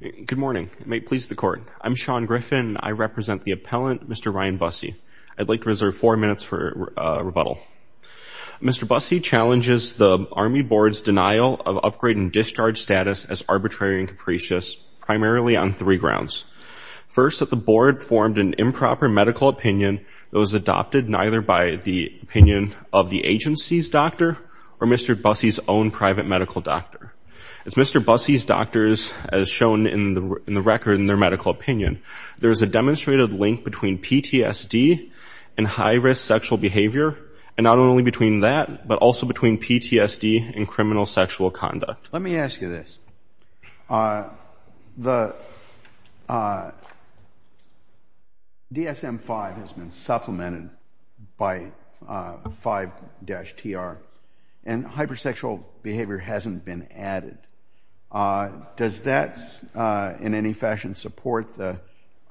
Good morning. It may please the court. I'm Sean Griffin. I represent the appellant, Mr. Ryan Bussey. I'd like to reserve four minutes for rebuttal. Mr. Bussey challenges the Army Board's denial of upgrade and discharge status as arbitrary and capricious primarily on three grounds. First, that the board formed an improper medical opinion that was adopted neither by the opinion of the agency's doctor or Mr. Bussey's own private medical doctor. It's Mr. Bussey's doctors as shown in the record in their medical opinion. There is a demonstrated link between PTSD and high-risk sexual behavior and not only between that but also between PTSD and criminal sexual conduct. Let me ask you this. The DSM-5 has been supplemented by 5-TR and hypersexual behavior hasn't been added. Does that in any fashion support the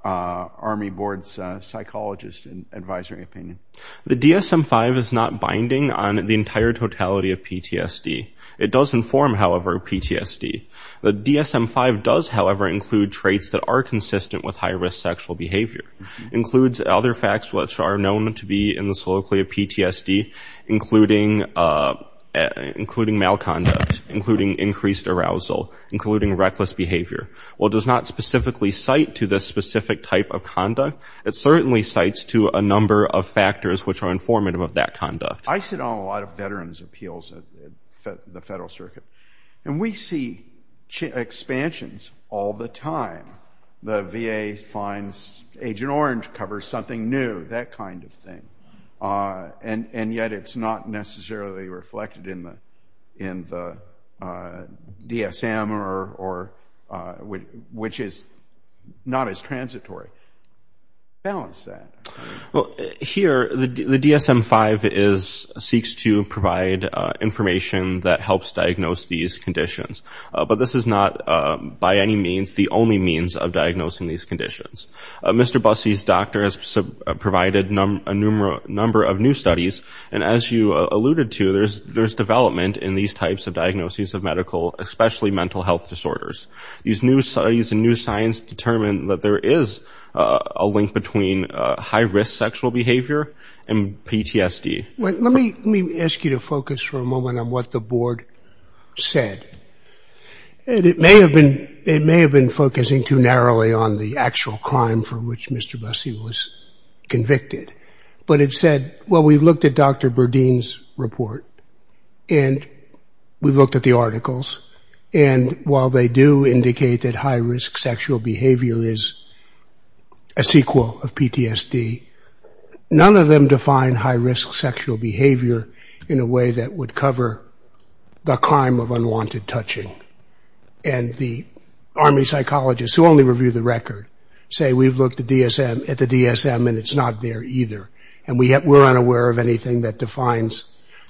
Army Board's psychologist and advisory opinion? The DSM-5 is not binding on the entire totality of PTSD. It does inform, however, PTSD. The DSM-5 does, however, include traits that are consistent with high-risk sexual behavior. It includes other facts which are known to be in the soliloquy of PTSD, including malconduct, including increased arousal, including reckless behavior. While it does not specifically cite to this specific type of conduct, it certainly cites to a number of factors which are informative of that conduct. I sit on a lot of veterans appeals at the Federal Circuit and we see expansions all the time. The VA finds Agent Orange covers something new, that kind of thing, and yet it's not necessarily reflected in the DSM or which is not as transitory. Balance that. Here, the DSM-5 seeks to provide information that helps diagnose these conditions, but this is not by any means the only means of diagnosing these conditions. Mr. Bussey's doctor has provided a number of new studies, and as you alluded to, there's development in these types of diagnoses of medical, especially mental health disorders. These new studies and new science determine that there is a link between high-risk sexual behavior and PTSD. Let me ask you to focus for a moment on what the board said. It may have been focusing too narrowly on the actual crime for which Mr. Bussey was convicted, but it said, well, we've looked at Dr. Burdine's report and we've looked at the articles, and while they do indicate that high-risk sexual behavior is a sequel of PTSD, none of them define high-risk sexual behavior in a way that would cover the crime of unwanted touching. And the Army psychologists, who only review the record, say we've looked at the DSM and it's not there either, and we're unaware of anything that defines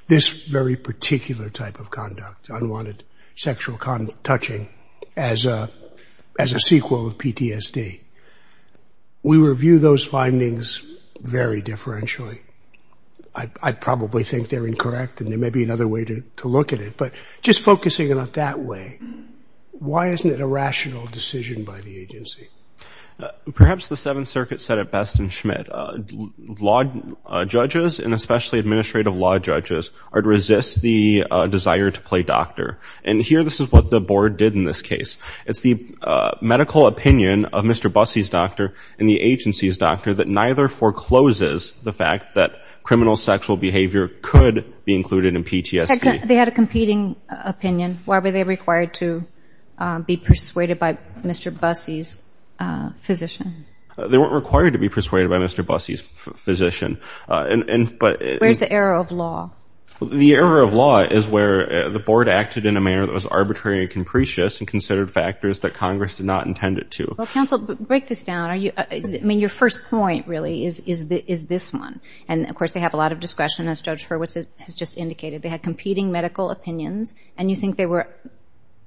this very particular type of conduct, unwanted sexual touching, as a sequel of PTSD. We review those findings very differentially. I probably think they're incorrect and there may be another way to look at it, but just focusing on it that way, why isn't it a rational decision by the agency? Perhaps the Seventh Circuit said it best in Schmidt, law judges and especially administrative law judges are to resist the desire to play doctor, and here this is what the board did in this case. It's the medical opinion of Mr. Bussey's doctor and the agency's doctor that neither forecloses the fact that criminal sexual behavior could be included in PTSD. They had a competing opinion. Why were they required to be persuaded by Mr. Bussey's physician? They weren't required to be persuaded by Mr. Bussey's physician. Where's the error of law? The error of law is where the board acted in a manner that was arbitrary and capricious and considered factors that Congress did not intend it to. Counsel, break this down. I mean, your first point really is this one, and of course they have a lot of discretion as Judge Hurwitz has just indicated. They had competing medical opinions and you think they were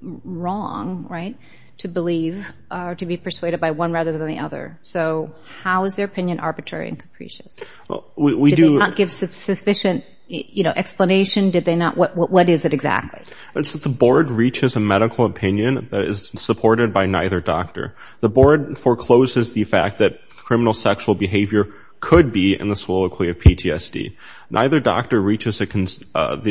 wrong, right, to believe or to be persuaded by one rather than the other. So how is their opinion arbitrary and capricious? Did they not give sufficient, you know, explanation? What is it exactly? It's that the board reaches a medical opinion that is supported by neither doctor. The board forecloses the fact that criminal sexual behavior could be in the soliloquy of PTSD. Neither doctor reaches the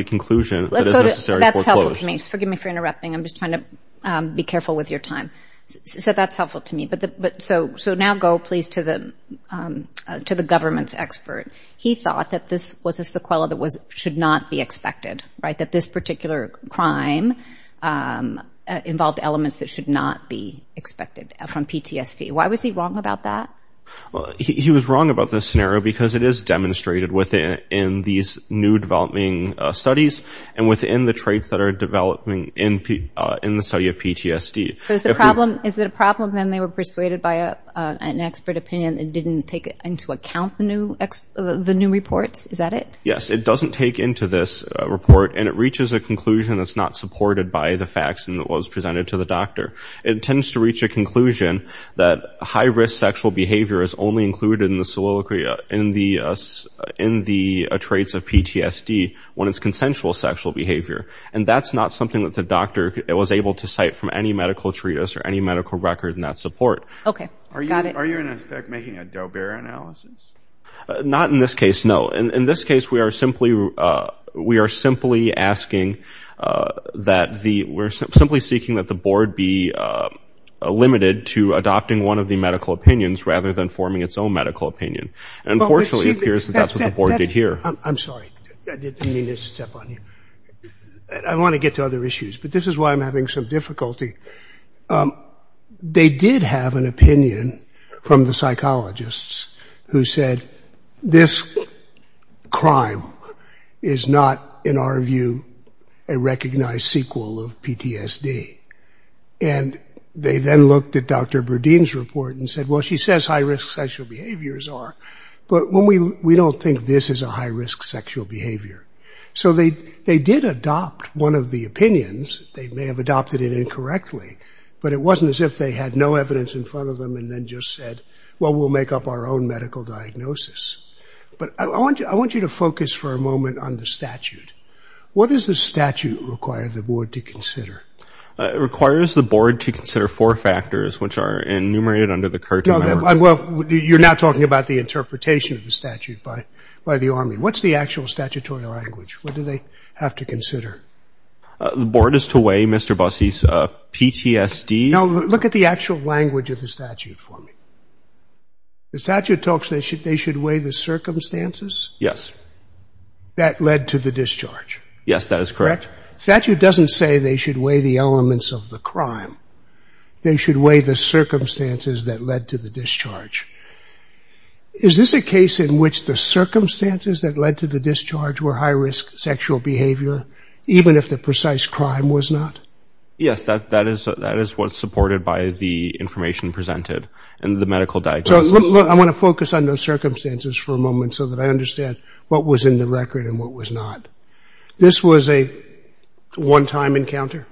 conclusion. That's helpful to me. Forgive me for interrupting. I'm just trying to be careful with your time. So that's helpful to me. So now go, please, to the government's expert. He thought that this was a sequela that should not be expected, right, that this particular crime involved elements that should not be expected from PTSD. Why was he wrong about that? Well, he was wrong about this scenario because it is demonstrated within these new developing studies and within the traits that are developing in the study of PTSD. Is it a problem then they were persuaded by an expert opinion that didn't take into account the new reports? Is that it? Yes, it doesn't take into this report and it reaches a conclusion that's not supported by the facts and that was presented to the doctor. It tends to reach a conclusion that high-risk sexual behavior is only included in the in the traits of PTSD when it's consensual sexual behavior and that's not something that the doctor was able to cite from any medical treatise or any medical record in that support. Okay, got it. Are you making a Doe-Bear analysis? Not in this case, no. In this case, we are simply asking that, we're simply seeking that the board be limited to adopting one of the medical opinions rather than forming its own medical opinion. Unfortunately, it appears that's what the board did here. I'm sorry, I didn't mean to step on you. I want to get to other issues, but this is why I'm having some difficulty. They did have an opinion from the psychologists who said this crime is not, in our view, a recognized sequel of PTSD and they then looked at Dr. Deane's report and said, well, she says high-risk sexual behaviors are, but we don't think this is a high-risk sexual behavior. So they did adopt one of the opinions. They may have adopted it incorrectly, but it wasn't as if they had no evidence in front of them and then just said, well, we'll make up our own medical diagnosis. But I want you to focus for a moment on the statute. What does the statute require the board to consider? It requires the board to consider four factors which are enumerated under the curtain. Well, you're not talking about the interpretation of the statute by the Army. What's the actual statutory language? What do they have to consider? The board is to weigh Mr. Bossie's PTSD. Now, look at the actual language of the statute for me. The statute talks that they should weigh the circumstances? Yes. That led to the discharge? Yes, that is correct. The statute doesn't say they should weigh the elements of the crime. They should weigh the circumstances that led to the discharge. Is this a case in which the circumstances that led to the discharge were high-risk sexual behavior, even if the precise crime was not? Yes, that is what's supported by the information presented and the medical diagnosis. I want to focus on those circumstances for a moment so that I understand what was in the record and what was not. This was a one-time encounter,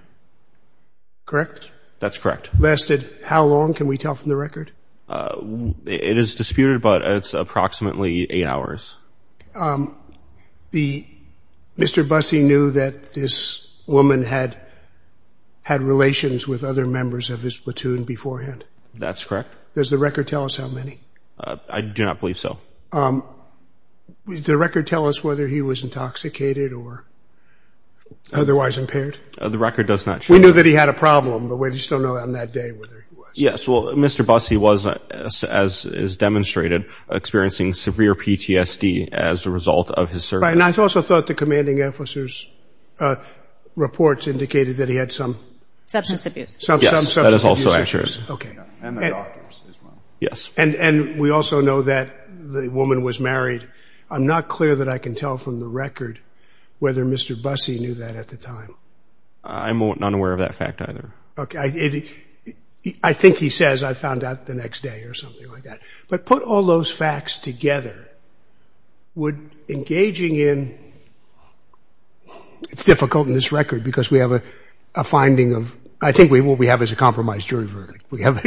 correct? That's correct. Lasted how long? Can we tell from the record? It is disputed, but it's approximately eight hours. Mr. Bossie knew that this woman had had relations with other members of his platoon beforehand? That's correct. Does the record tell us how many? I do not believe so. Does the record tell us whether he was intoxicated or otherwise impaired? The record does not show that. We knew that he had a problem, but we just don't know on that day whether he was. Yes, well, Mr. Bossie was, as is demonstrated, experiencing severe PTSD as a result of his service. And I also thought the commanding officer's reports indicated that he had some substance abuse. Yes, that is also true. Okay. And we also know that the woman was married. I'm not clear that I can tell from the record whether Mr. Bossie knew that at the time. I'm not aware of that fact either. Okay, I think he says I found out the next day or something like that. But put all those facts together, would engaging in... It's difficult in this record because we have a finding of... I think what we have is a compromise jury verdict. We have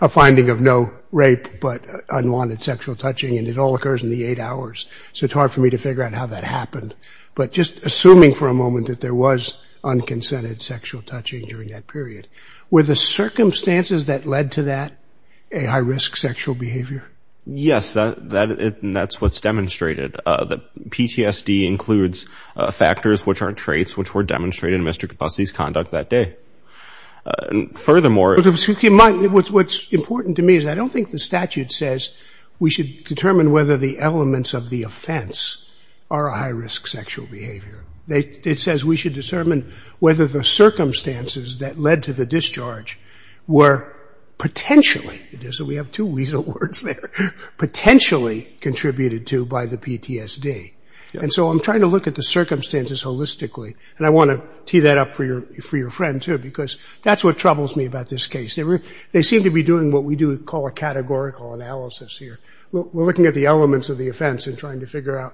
a finding of no rape but unwanted sexual touching, and it all occurs in the eight hours. So it's hard for me to figure out how that happened. But just assuming for a moment that there was unconsented sexual touching during that period, were the circumstances that led to that a high-risk sexual behavior? Yes, that's what's demonstrated. The PTSD includes factors which are traits which were demonstrated in Mr. Bossie's conduct that day. Furthermore... What's important to me is I don't think the statute says we should determine whether the elements of the offense are a high- risk sexual behavior. It says we should determine whether the circumstances that led to the discharge were potentially... So we have two weasel words there. Potentially contributed to by the PTSD. And so I'm trying to look at the for your friend, too, because that's what troubles me about this case. They seem to be doing what we do call a categorical analysis here. We're looking at the elements of the offense and trying to figure out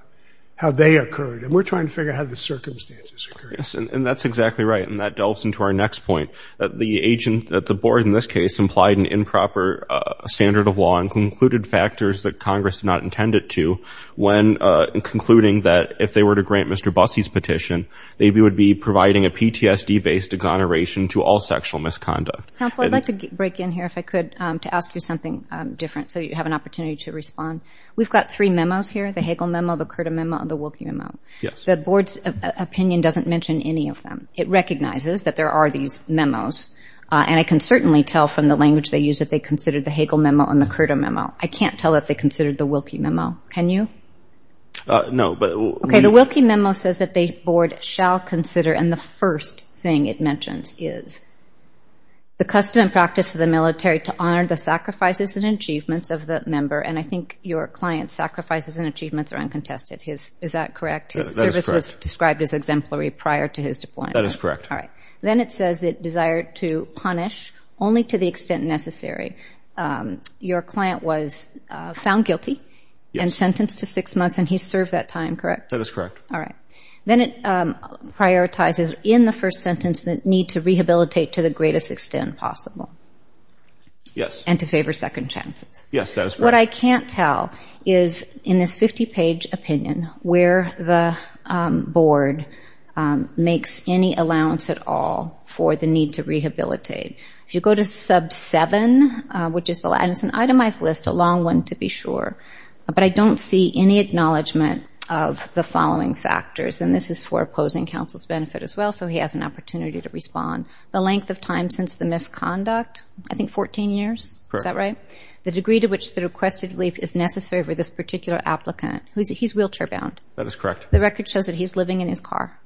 how they occurred, and we're trying to figure out how the circumstances occurred. Yes, and that's exactly right, and that delves into our next point. The agent at the board in this case implied an improper standard of law and concluded factors that Congress did not intend it to when concluding that if they were to grant Mr. Bossie's petition, they would be providing a PTSD-based exoneration to all sexual misconduct. Counsel, I'd like to break in here, if I could, to ask you something different so you have an opportunity to respond. We've got three memos here. The Hagel memo, the Curta memo, and the Wilkie memo. Yes. The board's opinion doesn't mention any of them. It recognizes that there are these memos, and I can certainly tell from the language they use that they considered the Hagel memo and the Curta memo. I can't tell that they considered the Wilkie memo. Can you? No, but... Okay, the Wilkie memo says that the board shall consider, and the first thing it mentions is, the custom and practice of the military to honor the sacrifices and achievements of the member, and I think your client's sacrifices and achievements are uncontested. Is that correct? His service was described as exemplary prior to his deployment. That is correct. All right, then it says that desire to punish only to the extent necessary. Your client was found guilty and sentenced to six months, and he served that time, correct? That is correct. All right, then it prioritizes, in the first sentence, the need to rehabilitate to the greatest extent possible. Yes. And to favor second chances. Yes, that is correct. What I can't tell is, in this 50-page opinion, where the board makes any allowance at all for the need to rehabilitate. If you go to sub 7, which is an itemized list, a long one to be sure, but I don't see any acknowledgment of the following factors, and this is for opposing counsel's benefit as well, so he has an opportunity to respond. The length of time since the misconduct, I think 14 years? Correct. Is that right? The degree to which the requested relief is necessary for this particular applicant. He's wheelchair-bound. That is correct. The record shows that he's living in his car?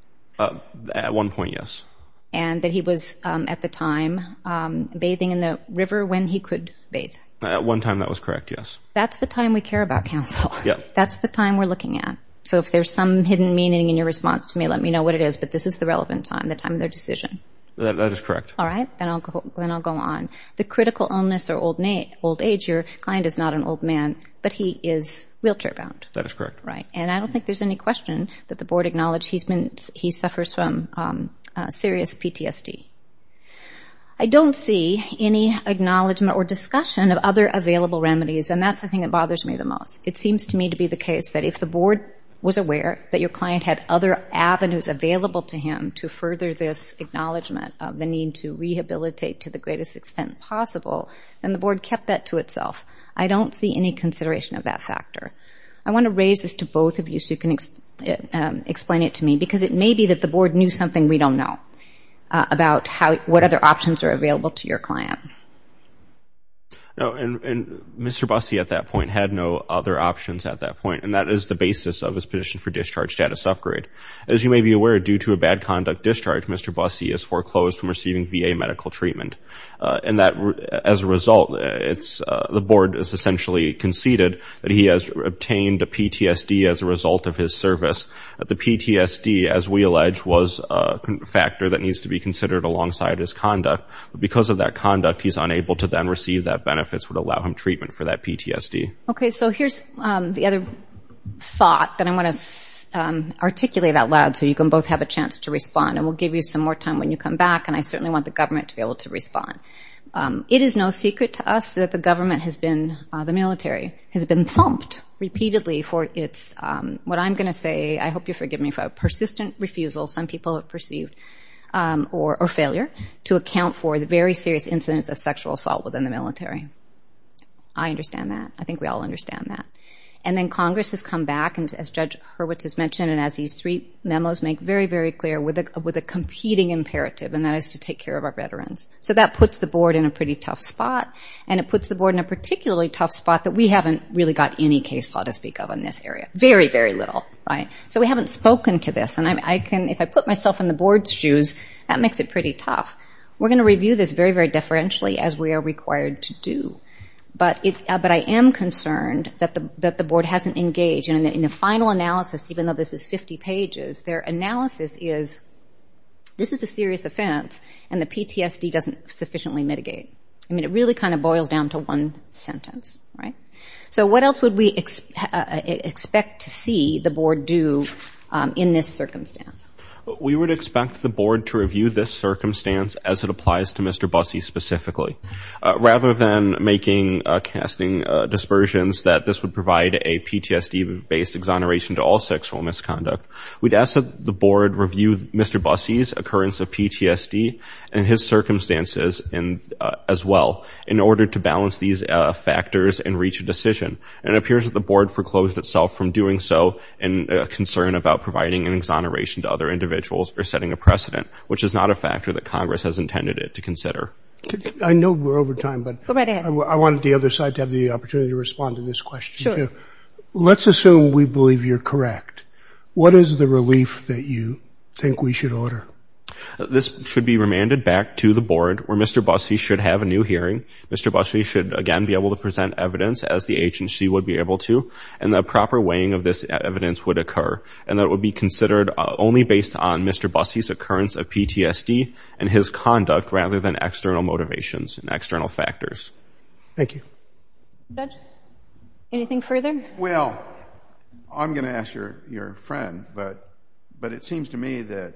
At one point, yes. And that he was, at the time, bathing in the river when he could bathe? At one time, that was correct, yes. That's the time we care about, counsel. Yeah. That's the time we're looking at. So if there's some hidden meaning in your response to me, let me know what it is, but this is the relevant time, the time of their decision. That is correct. All right, then I'll go on. The critical illness or old age, your client is not an old man, but he is wheelchair-bound? That is correct. Right, and I don't think there's any question that the board acknowledged he's been, he suffers from serious PTSD. I don't see any acknowledgement or discussion of other available remedies, and that's the thing that bothers me the most. It seems to me to be the case that if the board was aware that your client had other avenues available to him to further this acknowledgement of the need to rehabilitate to the greatest extent possible, then the board kept that to itself. I don't see any consideration of that factor. I want to raise this to both of you so you can explain it to me, because it may be that the board knew something we don't know about what other options are available to your client. No, and Mr. Busse at that point had no other options at that point, and that is the basis of his petition for discharge status upgrade. As you may be aware, due to a bad conduct discharge, Mr. Busse is foreclosed from receiving VA medical treatment, and that as a result, the board has essentially conceded that he has obtained a PTSD as a result of his service. The PTSD, as we allege, was a factor that needs to be considered alongside his conduct. Because of that conduct, he's unable to then receive that benefits would allow him treatment for that PTSD. Okay, so here's the other thought that I want to articulate out loud so you can both have a chance to respond, and we'll give you some more time when you come back, and I certainly want the government to be able to respond. It is no secret to us that the has been, the military has been thumped repeatedly for its, what I'm going to say, I hope you forgive me for a persistent refusal, some people have perceived, or failure to account for the very serious incidents of sexual assault within the military. I understand that. I think we all understand that. And then Congress has come back, and as Judge Hurwitz has mentioned, and as these three memos make very, very clear, with a competing imperative, and that is to take care of our veterans. So that puts the board in a pretty tough spot, and it puts the board in a particularly tough spot that we haven't really got any case law to speak of in this area. Very, very little, right? So we haven't spoken to this, and I can, if I put myself in the board's shoes, that makes it pretty tough. We're going to review this very, very differentially as we are required to do. But I am concerned that the board hasn't engaged, and in the final analysis, even though this is 50 pages, their analysis is, this is a serious offense, and the PTSD doesn't sufficiently mitigate. I mean, it really kind of boils down to one sentence, right? So what else would we expect to see the board do in this circumstance? We would expect the board to review this circumstance as it applies to Mr. Busse specifically. Rather than making casting dispersions that this would provide a PTSD-based exoneration to all sexual misconduct, we'd ask that the board review Mr. Busse's occurrence of PTSD and his circumstances as well in order to balance these factors and reach a decision. And it appears that the board foreclosed itself from doing so in concern about providing an exoneration to other individuals or setting a precedent, which is not a factor that Congress has intended it to consider. I know we're over time, but I wanted the other side to have the opportunity to respond to this question. Let's assume we believe you're correct. What is the relief that you think we should order? This should be remanded back to the board where Mr. Busse should have a new hearing. Mr. Busse should again be able to present evidence as the agency would be able to, and the proper weighing of this evidence would occur. And that would be considered only based on Mr. Busse's occurrence of PTSD and his conduct rather than external motivations and external factors. Thank you. Anything further? Well, I'm going to ask your friend, but it seems to me that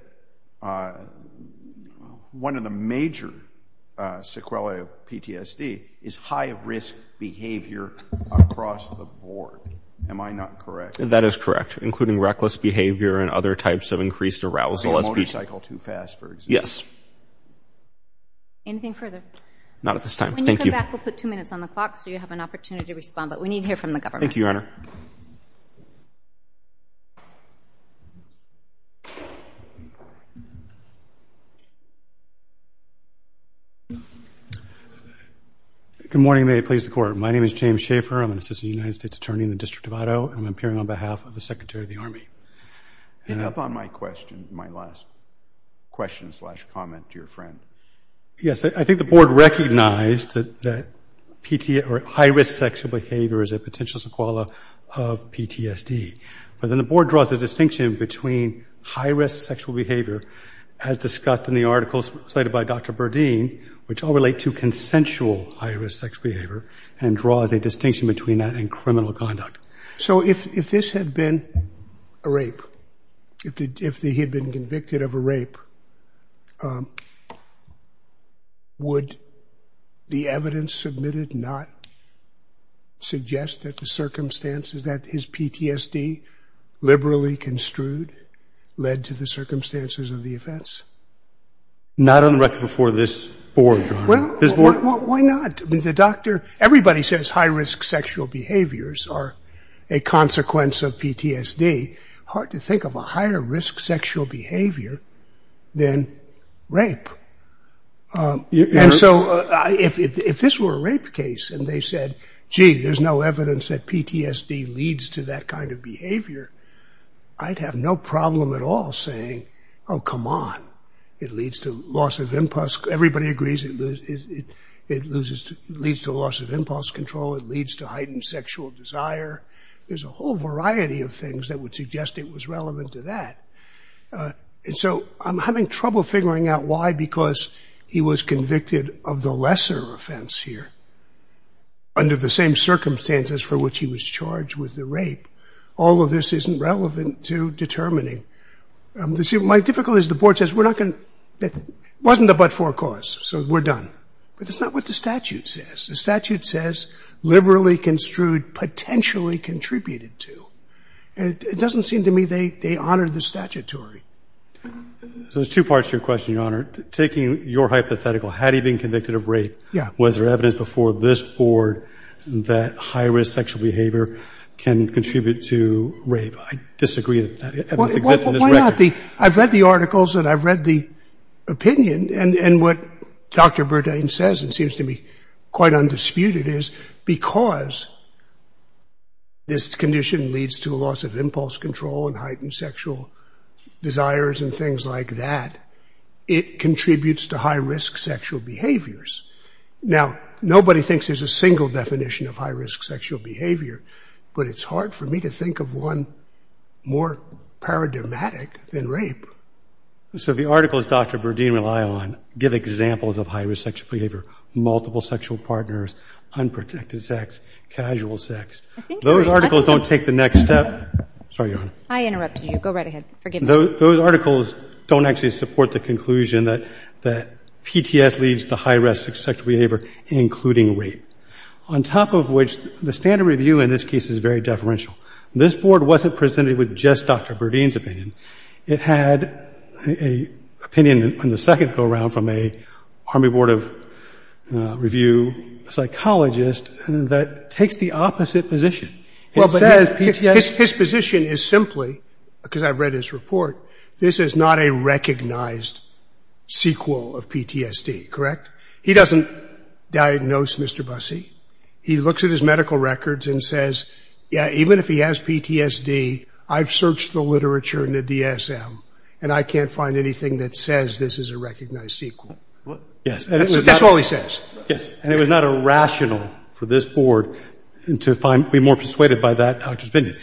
one of the major sequelae of PTSD is high-risk behavior across the board. Am I not correct? That is correct, including reckless behavior and other types of increased arousal. Motorcycle too fast, for example. Yes. Anything further? Not at this time. When you come back, we'll put two minutes on the clock so you have an opportunity to respond, but we need to hear from the government. Thank you, Your Honor. Good morning. May it please the Court. My name is James Schaefer. I'm an assistant United States Attorney in the District of Idaho, and I'm appearing on behalf of the Secretary of the Army. Pick up on my question, my last question slash comment to your friend. Yes, I think the Board recognized that high-risk sexual behavior is a potential sequelae of PTSD, but then the Board draws a distinction between high-risk sexual behavior, as discussed in the articles cited by Dr. Burdine, which all relate to consensual high-risk sexual behavior, and draws a distinction between that and criminal conduct. So if this had been a rape, if he had been convicted of a rape, would the evidence submitted not suggest that the circumstances that his PTSD liberally construed led to the circumstances of the offense? Not on the record before this Board, Your Honor. Well, why not? I mean, the doctor, everybody says high-risk sexual behaviors are a consequence of PTSD. Hard to think of a higher-risk sexual behavior than rape. And so if this were a rape case and they said, gee, there's no evidence that PTSD leads to that kind of behavior, I'd have no problem at all saying, oh, come on. It leads to loss of impulse. Everybody agrees it leads to loss of impulse control. It leads to heightened sexual desire. There's a whole variety of things that would suggest it was relevant to that. And so I'm having trouble figuring out why, because he was convicted of the lesser offense here. Under the same circumstances for which he was charged with the rape, all of this isn't relevant to determining. See, my difficulty is the Board says we're not going to – it wasn't a but-for cause, so we're done. But that's not what the statute says. The statute says liberally construed potentially contributed to. And it doesn't seem to me they honored the statutory. So there's two parts to your question, Your Honor. Taking your hypothetical, had he been convicted of rape, was there evidence before this Board that high-risk sexual behavior can contribute to rape? I disagree. I've read the articles and I've read the opinion. And what Dr. Bourdain says, it seems to me quite undisputed, is because this condition leads to loss of impulse control and heightened sexual desires and things like that, it contributes to high-risk sexual behaviors. Now, nobody thinks there's a single definition of high-risk sexual behavior, but it's hard for me to think of one more paradigmatic than rape. So the articles Dr. Bourdain relied on give examples of high-risk sexual behavior, multiple sexual partners, unprotected sex, casual sex. Those articles don't take the next step. Sorry, Your Honor. I interrupted you. Go right ahead. Forgive me. Those articles don't actually support the conclusion that PTS leads to high-risk sexual behavior, including rape. On top of which, the standard review in this case is very deferential. This Board wasn't presented with just Dr. Bourdain's opinion. It had an opinion in the second go-around from an Army Board of Review psychologist that takes the opposite position. It says PTS— His position is simply, because I've read his report, this is not a recognized sequel of PTSD, correct? He doesn't diagnose Mr. Busse. He looks at his medical records and says, yeah, even if he has PTSD, I've searched the literature and the DSM, and I can't find anything that says this is a recognized sequel. Yes. That's all he says. Yes. And it was not irrational for this Board to be more persuaded by that Dr. Spindy.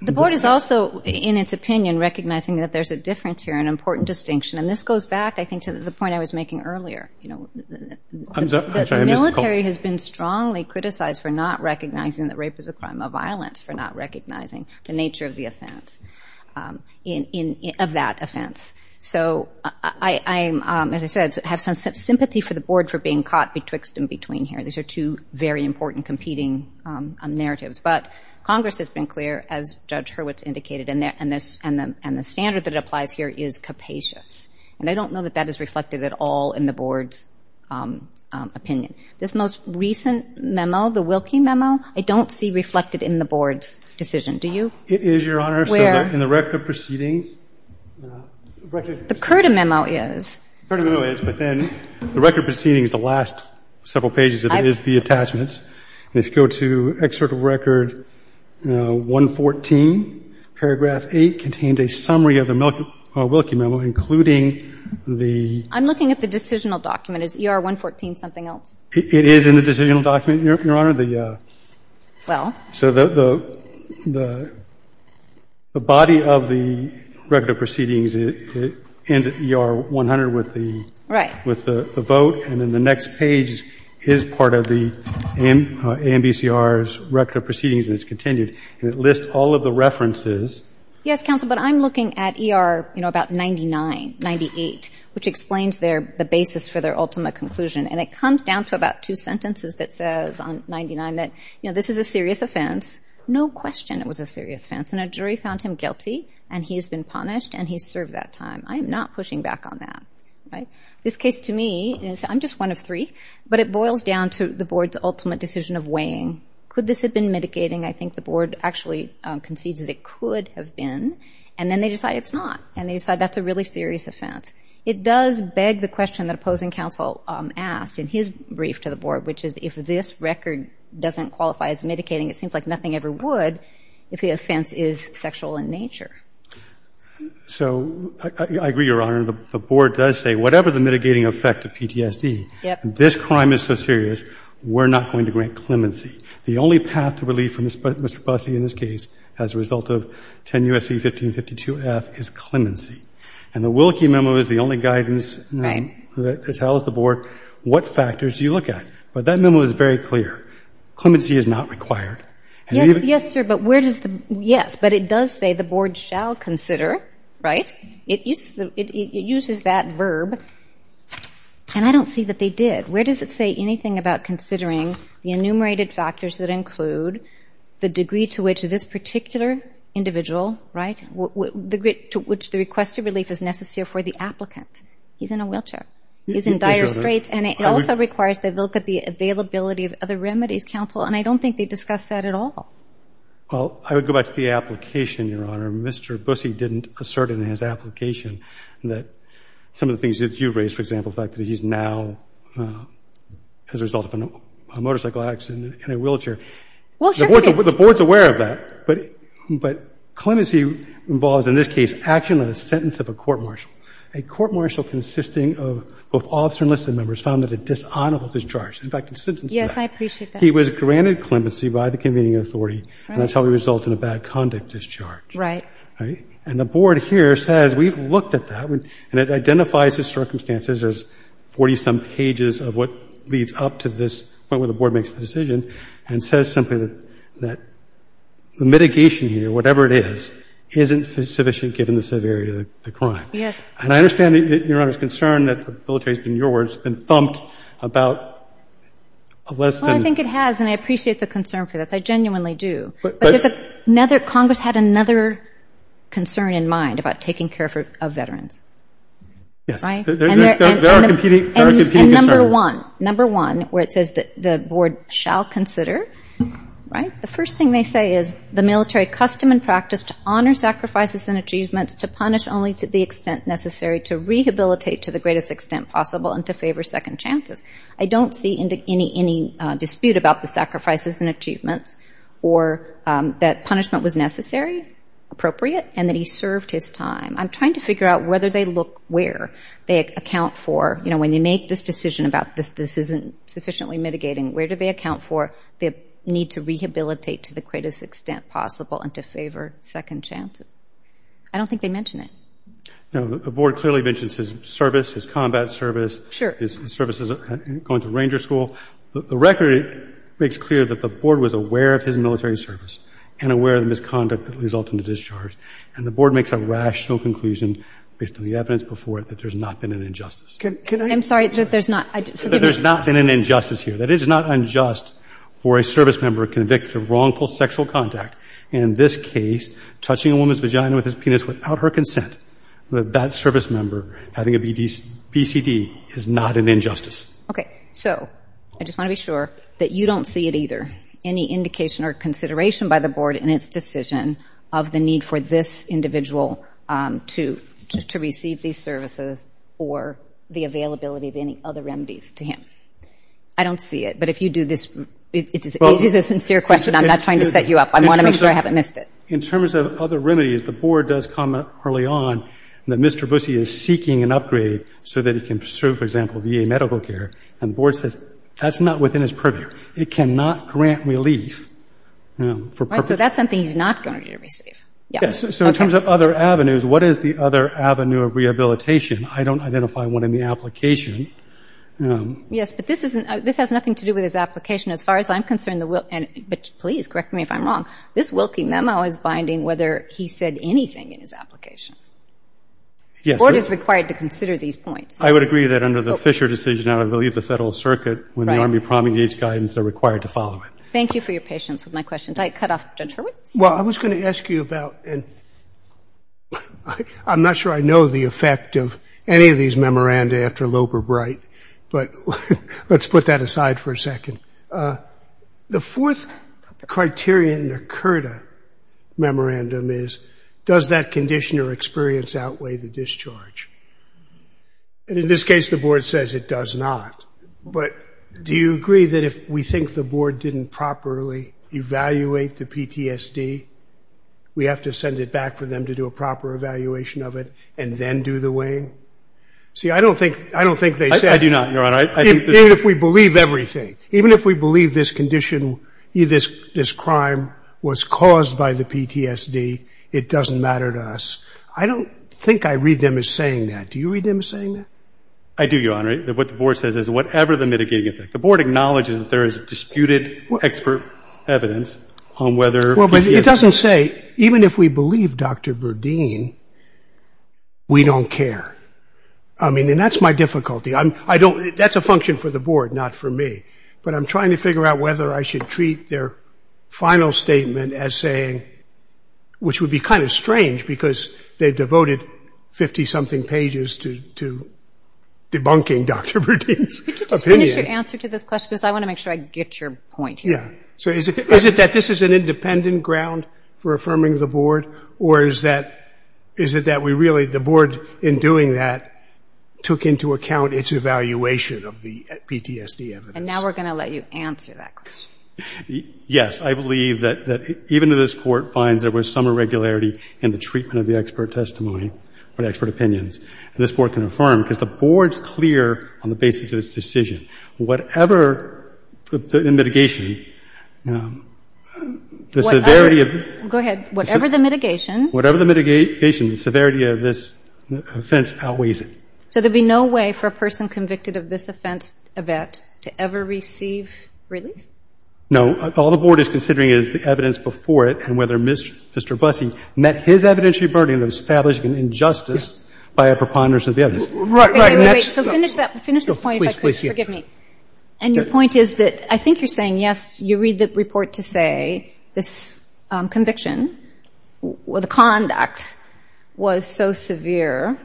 The Board is also, in its opinion, recognizing that there's a difference here, an important distinction. And this goes back, I think, to the point I was making earlier. The military has been strongly criticized for not recognizing that rape is a crime of violence, for not recognizing the nature of the offense, of that offense. So I, as I said, have some sympathy for the Board for being caught betwixt and between here. These are two very important competing narratives. But Congress has been clear, as Judge Hurwitz indicated, and the standard that applies here is capacious. And I don't know that that is reflected at all in the Board's opinion. This most recent memo, the Wilkie memo, I don't see reflected in the Board's decision. Do you? It is, Your Honor. Where? In the record proceedings. The Curta memo is. The Curta memo is, but then the record proceedings, the last several pages of it, is the attachments. And if you go to Excerpt of Record 114, paragraph 8, contains a summary of the Wilkie memo, including the. I'm looking at the decisional document. Is ER 114 something else? It is in the decisional document, Your Honor. The. Well. So the body of the record of proceedings, it ends at ER 100 with the. Right. With the vote, and then the next page is part of the AMBCR's record of proceedings, and it's continued. And it lists all of the references. Yes, counsel, but I'm looking at ER, you know, about 99, 98, which explains their, the basis for their ultimate conclusion. And it comes down to about two sentences that says on 99 that, you know, this is a serious offense. No question it was a serious offense. And a jury found him guilty, and he has been punished, and he served that time. I am not pushing back on that, right? This case to me is, I'm just one of three, but it boils down to the board's ultimate decision of weighing. Could this have been mitigating? I think the board actually concedes that it could have been, and then they decide it's not. And they decide that's a really serious offense. It does beg the question that opposing counsel asked in his brief to the board, which is if this record doesn't qualify as mitigating, it seems like nothing ever would if the offense is sexual in nature. So I agree, Your Honor. The board does say whatever the mitigating effect of PTSD, this crime is so serious, we're not going to grant clemency. The only path to relief for Mr. Busse in this case as a result of 10 U.S.C. 1552-F is clemency. And the Willkie memo is the only guidance that tells the board what factors you look at. But that memo is very clear. Clemency is not required. Yes, sir. But where does the, yes, but it does say the board shall consider, right? It uses that verb. And I don't see that they did. Where does it say anything about considering the enumerated factors that include the degree to which this particular individual, right, the degree to which the request of relief is necessary for the applicant? He's in a wheelchair. He's in dire straits. And it also requires that they look at the availability of other remedies, counsel. And I don't think they discussed that at all. Well, I would go back to the application, Your Honor. Mr. Busse didn't assert in his application that some of the things that you've raised, for example, the fact that he's now as a result of a motorcycle accident in a wheelchair. Well, sure. The board's aware of that. But clemency involves, in this case, action on a sentence of a court-martial. A court-martial consisting of both officer and enlisted members found that a dishonorable discharge. In fact, a sentence of that. Yes, I appreciate that. He was granted clemency by the convening authority. And that's how we result in a bad conduct discharge. Right. Right? And the board here says we've looked at that. And it identifies his circumstances as 40-some pages of what leads up to this point where the board makes the decision and says simply that the mitigation here, whatever it is, isn't sufficient given the severity of the crime. Yes. And I understand, Your Honor, his concern that the military has been, in your words, been thumped about a less than- Well, I think it has. And I appreciate the concern for this. I genuinely do. But there's another- Congress had another concern in mind about taking care of veterans. Yes. Right? There are competing concerns. And number one, number one, where it says that the board shall consider, right, the first thing they say is the military custom and practice to honor sacrifices and achievements to punish only to the extent necessary to rehabilitate to the greatest extent possible and to favor second chances. I don't see any dispute about the sacrifices and achievements or that punishment was necessary, appropriate, and that he served his time. I'm trying to figure out whether they look where. They account for, you know, when they make this decision about this, this isn't sufficiently mitigating, where do they account for the need to rehabilitate to the greatest extent possible and to favor second chances? I don't think they mention it. Now, the board clearly mentions his service, his combat service. His services going to ranger school. The record makes clear that the board was aware of his military service and aware of the misconduct that resulted in the discharge. And the board makes a rational conclusion based on the evidence before it that there's not been an injustice. Can I- I'm sorry, that there's not- That there's not been an injustice here. That it is not unjust for a service member convicted of wrongful sexual contact, in this case, touching a woman's that that service member having a BCD is not an injustice. Okay. So I just want to be sure that you don't see it either, any indication or consideration by the board in its decision of the need for this individual to receive these services or the availability of any other remedies to him. I don't see it. But if you do this, it is a sincere question. I'm not trying to set you up. I want to make sure I haven't missed it. In terms of other remedies, the board does comment early on that Mr. Busse is seeking an upgrade so that he can serve, for example, VA medical care. And the board says that's not within his purview. It cannot grant relief for- So that's something he's not going to receive. Yes. So in terms of other avenues, what is the other avenue of rehabilitation? I don't identify one in the application. Yes, but this has nothing to do with his application. As far as I'm concerned, but please correct me if I'm wrong, this Wilkie memo is binding whether he said anything in his application. The board is required to consider these points. I would agree that under the Fisher decision, I believe the Federal Circuit, when the Army promulgates guidance, they're required to follow it. Thank you for your patience with my questions. I cut off Judge Hurwitz. Well, I was going to ask you about, and I'm not sure I know the effect of any of these memoranda after Loeb or Bright, but let's put that aside for a second. The fourth criterion in the CURTA memorandum is does that condition or experience outweigh the discharge? And in this case, the board says it does not. But do you agree that if we think the board didn't properly evaluate the PTSD, we have to send it back for them to do a proper evaluation of it and then do the weighing? See, I don't think they said- I do not, Your Honor. Even if we believe everything. Even if we believe this condition, this crime was caused by the PTSD, it doesn't matter to us. I don't think I read them as saying that. Do you read them as saying that? I do, Your Honor. What the board says is whatever the mitigating effect. The board acknowledges that there is disputed expert evidence on whether- Well, but it doesn't say, even if we believe Dr. Verdeen, we don't care. I mean, that's my difficulty. I don't- that's a function for the board, not for me. But I'm trying to figure out whether I should treat their final statement as saying- which would be kind of strange because they've devoted 50-something pages to debunking Dr. Verdeen's opinion. Just finish your answer to this question because I want to make sure I get your point here. Yeah. So is it that this is an independent ground for affirming the board or is that- is it that we really- the board, in doing that, took into account its evaluation of the PTSD evidence? And now we're going to let you answer that question. Yes. I believe that even if this Court finds there was some irregularity in the treatment of the expert testimony or the expert opinions, this board can affirm because the board's clear on the basis of its decision. Whatever the mitigation, the severity of- Go ahead. Whatever the mitigation- Whatever the mitigation, the severity of this offense outweighs it. So there'd be no way for a person convicted of this offense, Yvette, to ever receive relief? No. All the board is considering is the evidence before it and whether Mr. Bussey met his evidentiary burden of establishing an injustice by a preponderance of the evidence. Right, right. And that's- Wait, wait, wait. So finish that- finish this point, if I could. Please, please. Forgive me. And your point is that I think you're saying, yes, you read the report to say this conviction or the conduct was so severe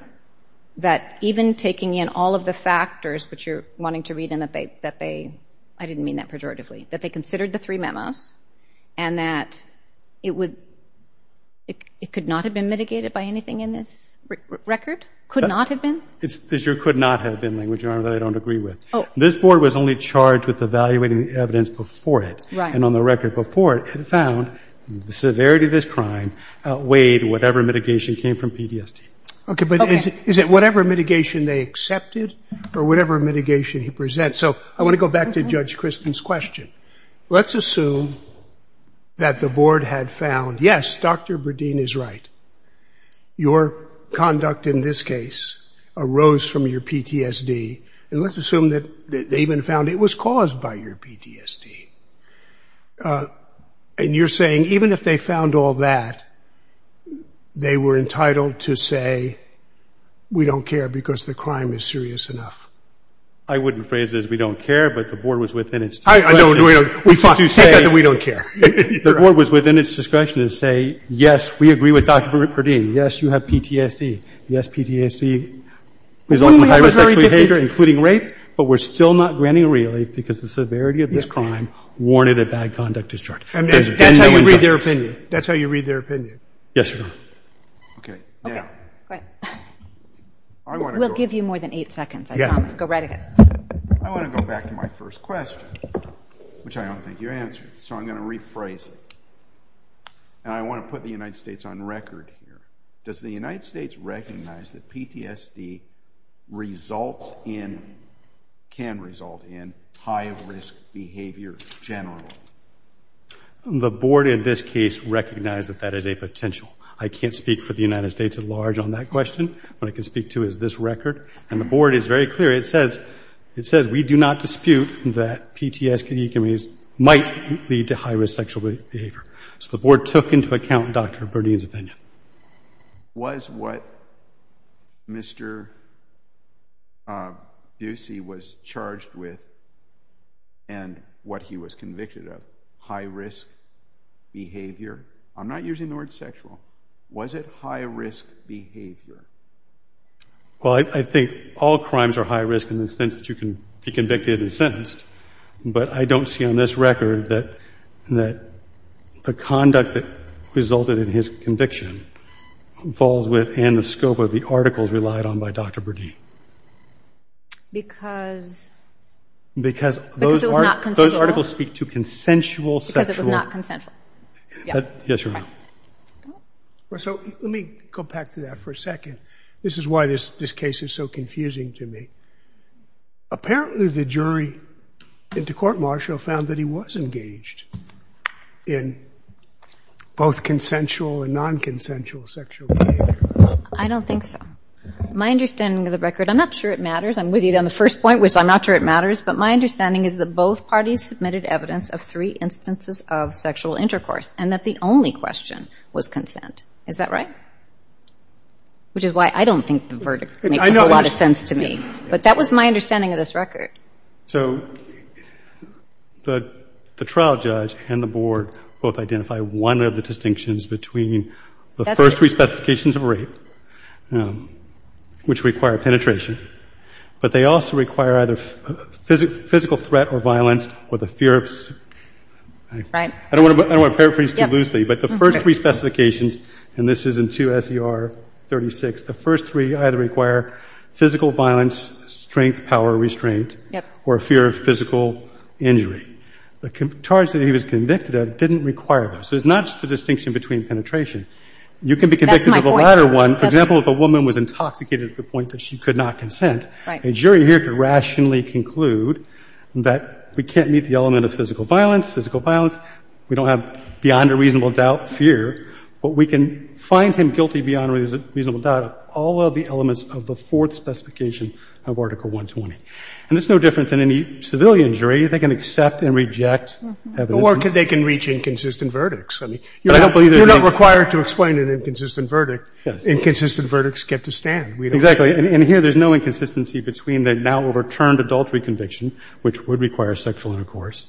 that even taking in all of the factors, which you're wanting to read and that they- I didn't mean that pejoratively- that they considered the three memos and that it would- it could not have been mitigated by anything in this record? Could not have been? It's your could not have been language, Your Honor, that I don't agree with. Oh. This board was only charged with evaluating the evidence before it. Right. And on the record before it, it found the severity of this crime weighed whatever mitigation came from PTSD. Okay. But is it whatever mitigation they accepted or whatever mitigation he presents? So I want to go back to Judge Christen's question. Let's assume that the board had found, yes, Dr. Berdeen is right. Your conduct in this case arose from your PTSD. And let's assume that they even found it was caused by your PTSD. And you're saying even if they found all that, they were entitled to say, we don't care because the crime is serious enough. I wouldn't phrase it as we don't care, but the board was within its discretion. I know, we don't- we take that that we don't care. The board was within its discretion to say, yes, we agree with Dr. Berdeen. Yes, you have PTSD. Yes, PTSD results in high-risk sexual behavior, including rape, but we're still not granting relief because the severity of this crime warranted a bad conduct discharge. And that's how you read their opinion? That's how you read their opinion? Yes, Your Honor. Okay. Now- Okay. Go ahead. We'll give you more than eight seconds, I promise. Go right ahead. I want to go back to my first question, which I don't think you answered. So I'm going to rephrase it. And I want to put the United States on record here. Does the board in this case recognize that that is a potential? I can't speak for the United States at large on that question. What I can speak to is this record. And the board is very clear. It says, it says we do not dispute that PTSD might lead to high-risk sexual behavior. So the board took into account Dr. Berdeen's opinion. Was what Mr. Ducey was charged with and what he was convicted of high-risk behavior? I'm not using the word sexual. Was it high-risk behavior? Well, I think all crimes are high-risk in the sense that you can be convicted and sentenced. But I don't see on this record that the conduct that resulted in his conviction falls within the scope of the articles relied on by Dr. Berdeen. Because it was not consensual? Because those articles speak to consensual sexual. Because it was not consensual. Yes, Your Honor. So let me go back to that for a second. This is why this case is so confusing to me. Apparently, the jury in the court-martial found that he was engaged in both consensual and non-consensual sexual behavior. I don't think so. My understanding of the record, I'm not sure it matters. I'm with you on the first point, which I'm not sure it matters. But my understanding is that both parties submitted evidence of three instances of sexual intercourse and that the only question was consent. Is that right? Which is why I don't think the verdict makes a lot of sense to me. But that was my understanding of this record. So the trial judge and the board both identified one of the distinctions between the first three specifications of rape, which require penetration, but they also require either physical threat or violence or the fear of... Right. I don't want to paraphrase too loosely, but the first three specifications, and this is in 2 S.E.R. 36, the first three either require physical violence, strength, power, restraint... Yep. ...or a fear of physical injury. The charge that he was convicted of didn't require those. So it's not just a distinction between penetration. You can be convicted of the latter one. For example, if a woman was intoxicated to the point that she could not consent, a jury here could rationally conclude that we can't meet the element of physical violence. Physical violence, we don't have beyond a reasonable doubt fear, but we can find him guilty beyond a reasonable doubt of all of the elements of the fourth specification of Article 120. And it's no different than any civilian jury. They can accept and reject evidence... Or they can reach inconsistent verdicts. I mean, you're not required to explain an inconsistent verdict. Yes. Inconsistent verdicts get to stand. Exactly. And here there's no inconsistency between the now overturned adultery conviction, which would require sexual intercourse,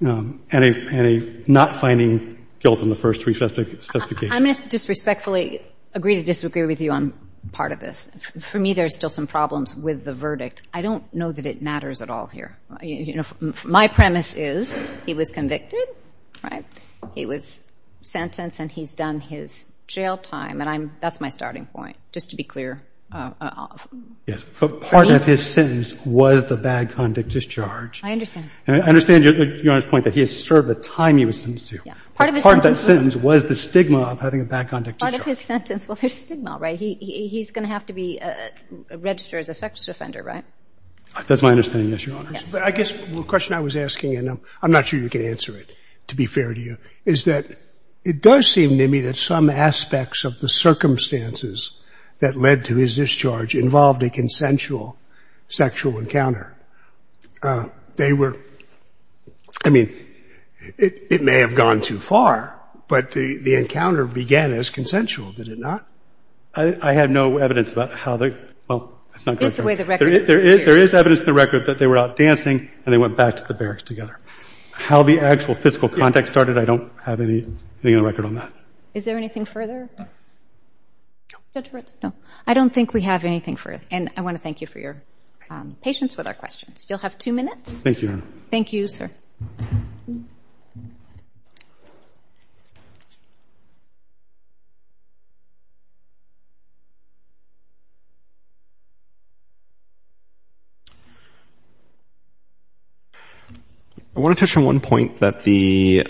and a not finding guilt in the first three specifications. I'm going to disrespectfully agree to disagree with you on part of this. For me, there's still some problems with the verdict. I don't know that it matters at all here. You know, my premise is he was convicted, right? He was sentenced and he's done his jail time. And that's my starting point, just to be clear. Yes. But part of his sentence was the bad conduct discharge. I understand. And I understand Your Honor's point that he has served the time he was sentenced to. Yeah. Part of his sentence... Part of his sentence, well, there's stigma, right? He's going to have to be registered as a sex offender, right? That's my understanding, yes, Your Honor. Yes. But I guess the question I was asking, and I'm not sure you can answer it, to be fair to you, is that it does seem to me that some aspects of the circumstances that led to his discharge involved a consensual sexual encounter. They were – I mean, it may have gone too far, but the encounter began as consensual, did it not? I have no evidence about how they – well, that's not going to change. Is the way the record appears? There is evidence in the record that they were out dancing and they went back to the barracks together. How the actual physical contact started, I don't have anything in the record on that. Is there anything further? Judge Ritz? No. I don't think we have anything further. And I want to thank you for your patience with our questions. You'll have two minutes. Thank you, Your Honor. Thank you, sir. I want to touch on one point that the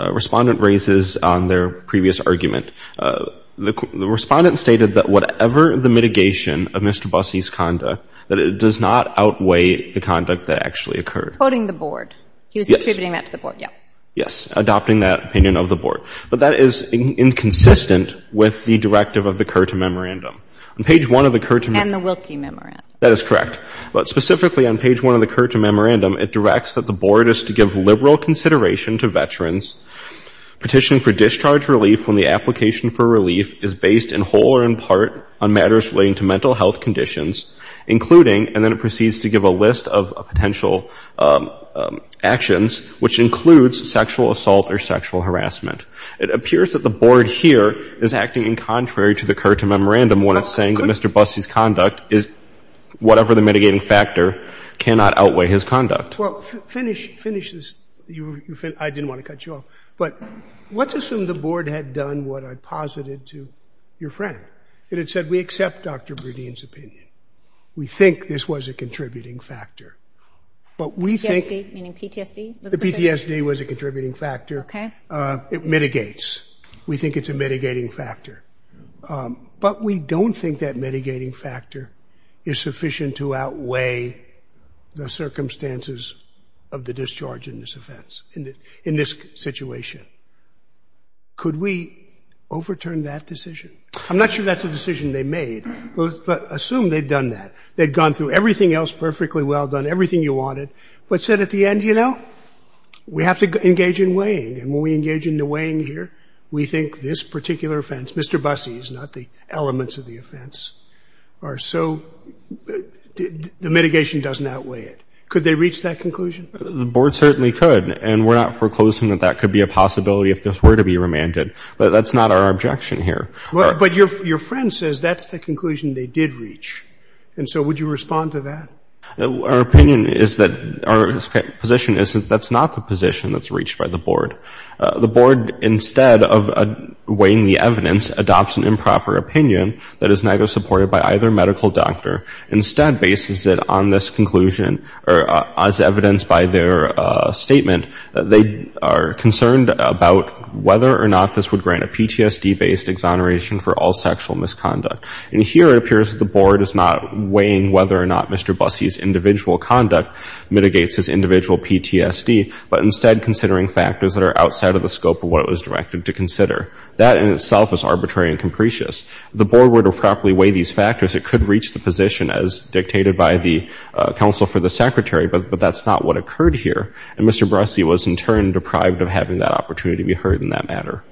respondent raises on their previous argument. The respondent stated that whatever the mitigation of Mr. Busse's conduct, that it does not outweigh the conduct that actually occurred. Quoting the board. He was attributing that to the board, yeah. Yes. Adopting that opinion of the board. But that is inconsistent with the directive of the CURTA Memorandum. On page one of the CURTA – And the Wilkie Memorandum. That is correct. But specifically on page one of the CURTA Memorandum, it directs that the board is to give liberal consideration to veterans petitioning for discharge relief when the application for relief is based in whole or in part on matters relating to mental health conditions, including – and then proceeds to give a list of potential actions, which includes sexual assault or sexual harassment. It appears that the board here is acting in contrary to the CURTA Memorandum when it's saying that Mr. Busse's conduct is – whatever the mitigating factor cannot outweigh his conduct. Well, finish this. I didn't want to cut you off. But let's assume the board had done what I posited to your friend. It had said we accept Dr. Berdine's opinion. We think this was a contributing factor. But we think – PTSD? Meaning PTSD was a contributing factor? The PTSD was a contributing factor. It mitigates. We think it's a mitigating factor. But we don't think that mitigating factor is sufficient to outweigh the circumstances of the discharge in this offense – in this situation. Could we overturn that decision? I'm not sure that's a decision they made, but assume they'd done that. They'd gone through everything else perfectly well, done everything you wanted, but said at the end, you know, we have to engage in weighing. And when we engage in the weighing here, we think this particular offense – Mr. Busse's, not the elements of the offense – are so – the mitigation doesn't outweigh it. Could they reach that conclusion? The board certainly could. And we're not foreclosing that that could be a possibility if this were to be remanded. But that's not our objection here. But your friend says that's the conclusion they did reach. And so would you respond to that? Our opinion is that – our position is that that's not the position that's reached by the board. The board, instead of weighing the evidence, adopts an improper opinion that is neither supported by either medical doctor. Instead, bases it on this conclusion as evidenced by their statement, they are concerned about whether or not this would grant a PTSD-based exoneration for all sexual misconduct. And here it appears that the board is not weighing whether or not Mr. Busse's individual conduct mitigates his individual PTSD, but instead considering factors that are outside of the scope of what it was directed to consider. That in itself is arbitrary and capricious. If the board were to properly weigh these factors, it could reach the position as dictated by the counsel for the secretary. But that's not what occurred here. And Mr. Busse was in turn deprived of having that opportunity to be heard in that matter.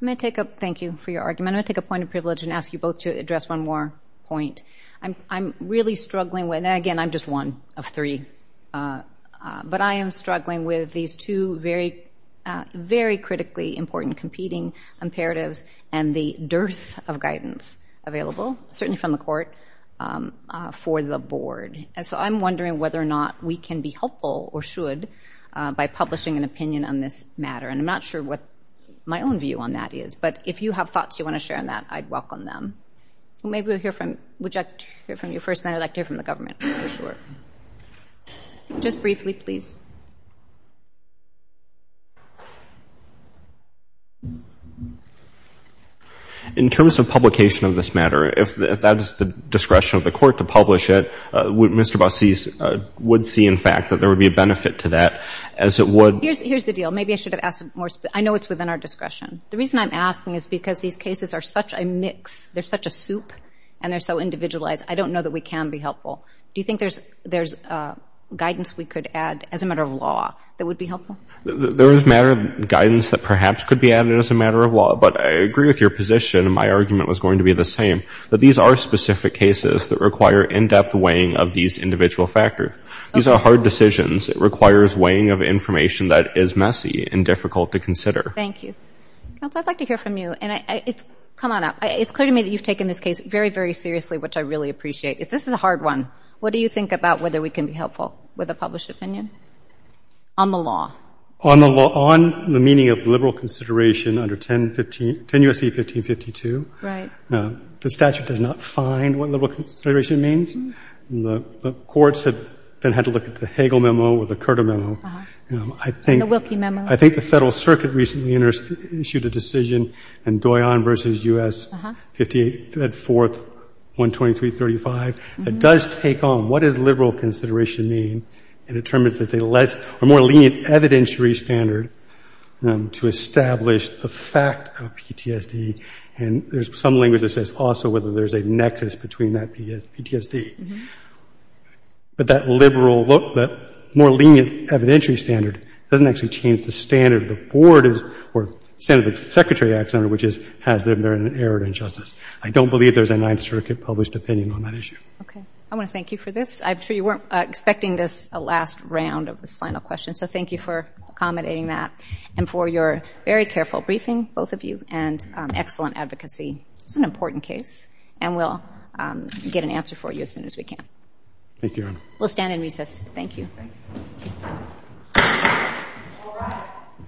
I'm going to take a – thank you for your argument. I'm going to take a point of privilege and ask you both to address one more point. I'm really struggling with – and again, I'm just one of three. But I am struggling with these two very, very critically important imperatives and the dearth of guidance available, certainly from the court, for the board. And so I'm wondering whether or not we can be helpful or should by publishing an opinion on this matter. And I'm not sure what my own view on that is. But if you have thoughts you want to share on that, I'd welcome them. Or maybe we'll hear from – would you like to hear from the government? Just briefly, please. In terms of publication of this matter, if that is the discretion of the court to publish it, Mr. Busse would see, in fact, that there would be a benefit to that, as it would – Here's the deal. Maybe I should have asked more – I know it's within our discretion. The reason I'm asking is because these cases are such a mix. They're such a soup. And they're so individualized. I don't know that we can be helpful. Do you think there's guidance we could add as a matter of law that would be helpful? There is matter of guidance that perhaps could be added as a matter of law. But I agree with your position, and my argument was going to be the same, that these are specific cases that require in-depth weighing of these individual factors. These are hard decisions. It requires weighing of information that is messy and difficult to consider. Thank you. Counsel, I'd like to hear from you. And it's – come on up. It's clear to me that you've taken this case very, very seriously, which I really appreciate. This is a hard one. What do you think about whether we can be helpful with a published opinion on the law? On the meaning of liberal consideration under 10 U.S.C. 1552. Right. The statute does not find what liberal consideration means. The courts have then had to look at the Hagel Memo or the Curta Memo. And the Wilkie Memo. I think the Federal Circuit recently issued a decision in Doyon v. U.S. 58-4-12335 that does take on what does liberal consideration mean and determines it's a less or more lenient evidentiary standard to establish the fact of PTSD. And there's some language that says also whether there's a nexus between that PTSD. But that liberal – that more lenient evidentiary standard doesn't actually change the standard of the board or the standard of the Secretary of the Act Center, which is has there been an error or injustice. I don't believe there's a Ninth Circuit published opinion on that issue. Okay. I want to thank you for this. I'm sure you weren't expecting this last round of this final question. So thank you for accommodating that and for your very careful briefing, both of you, and excellent advocacy. It's an important case. And we'll get an answer for you as soon as we can. Thank you, Your Honor. We'll stand in recess. Thank you. Thank you.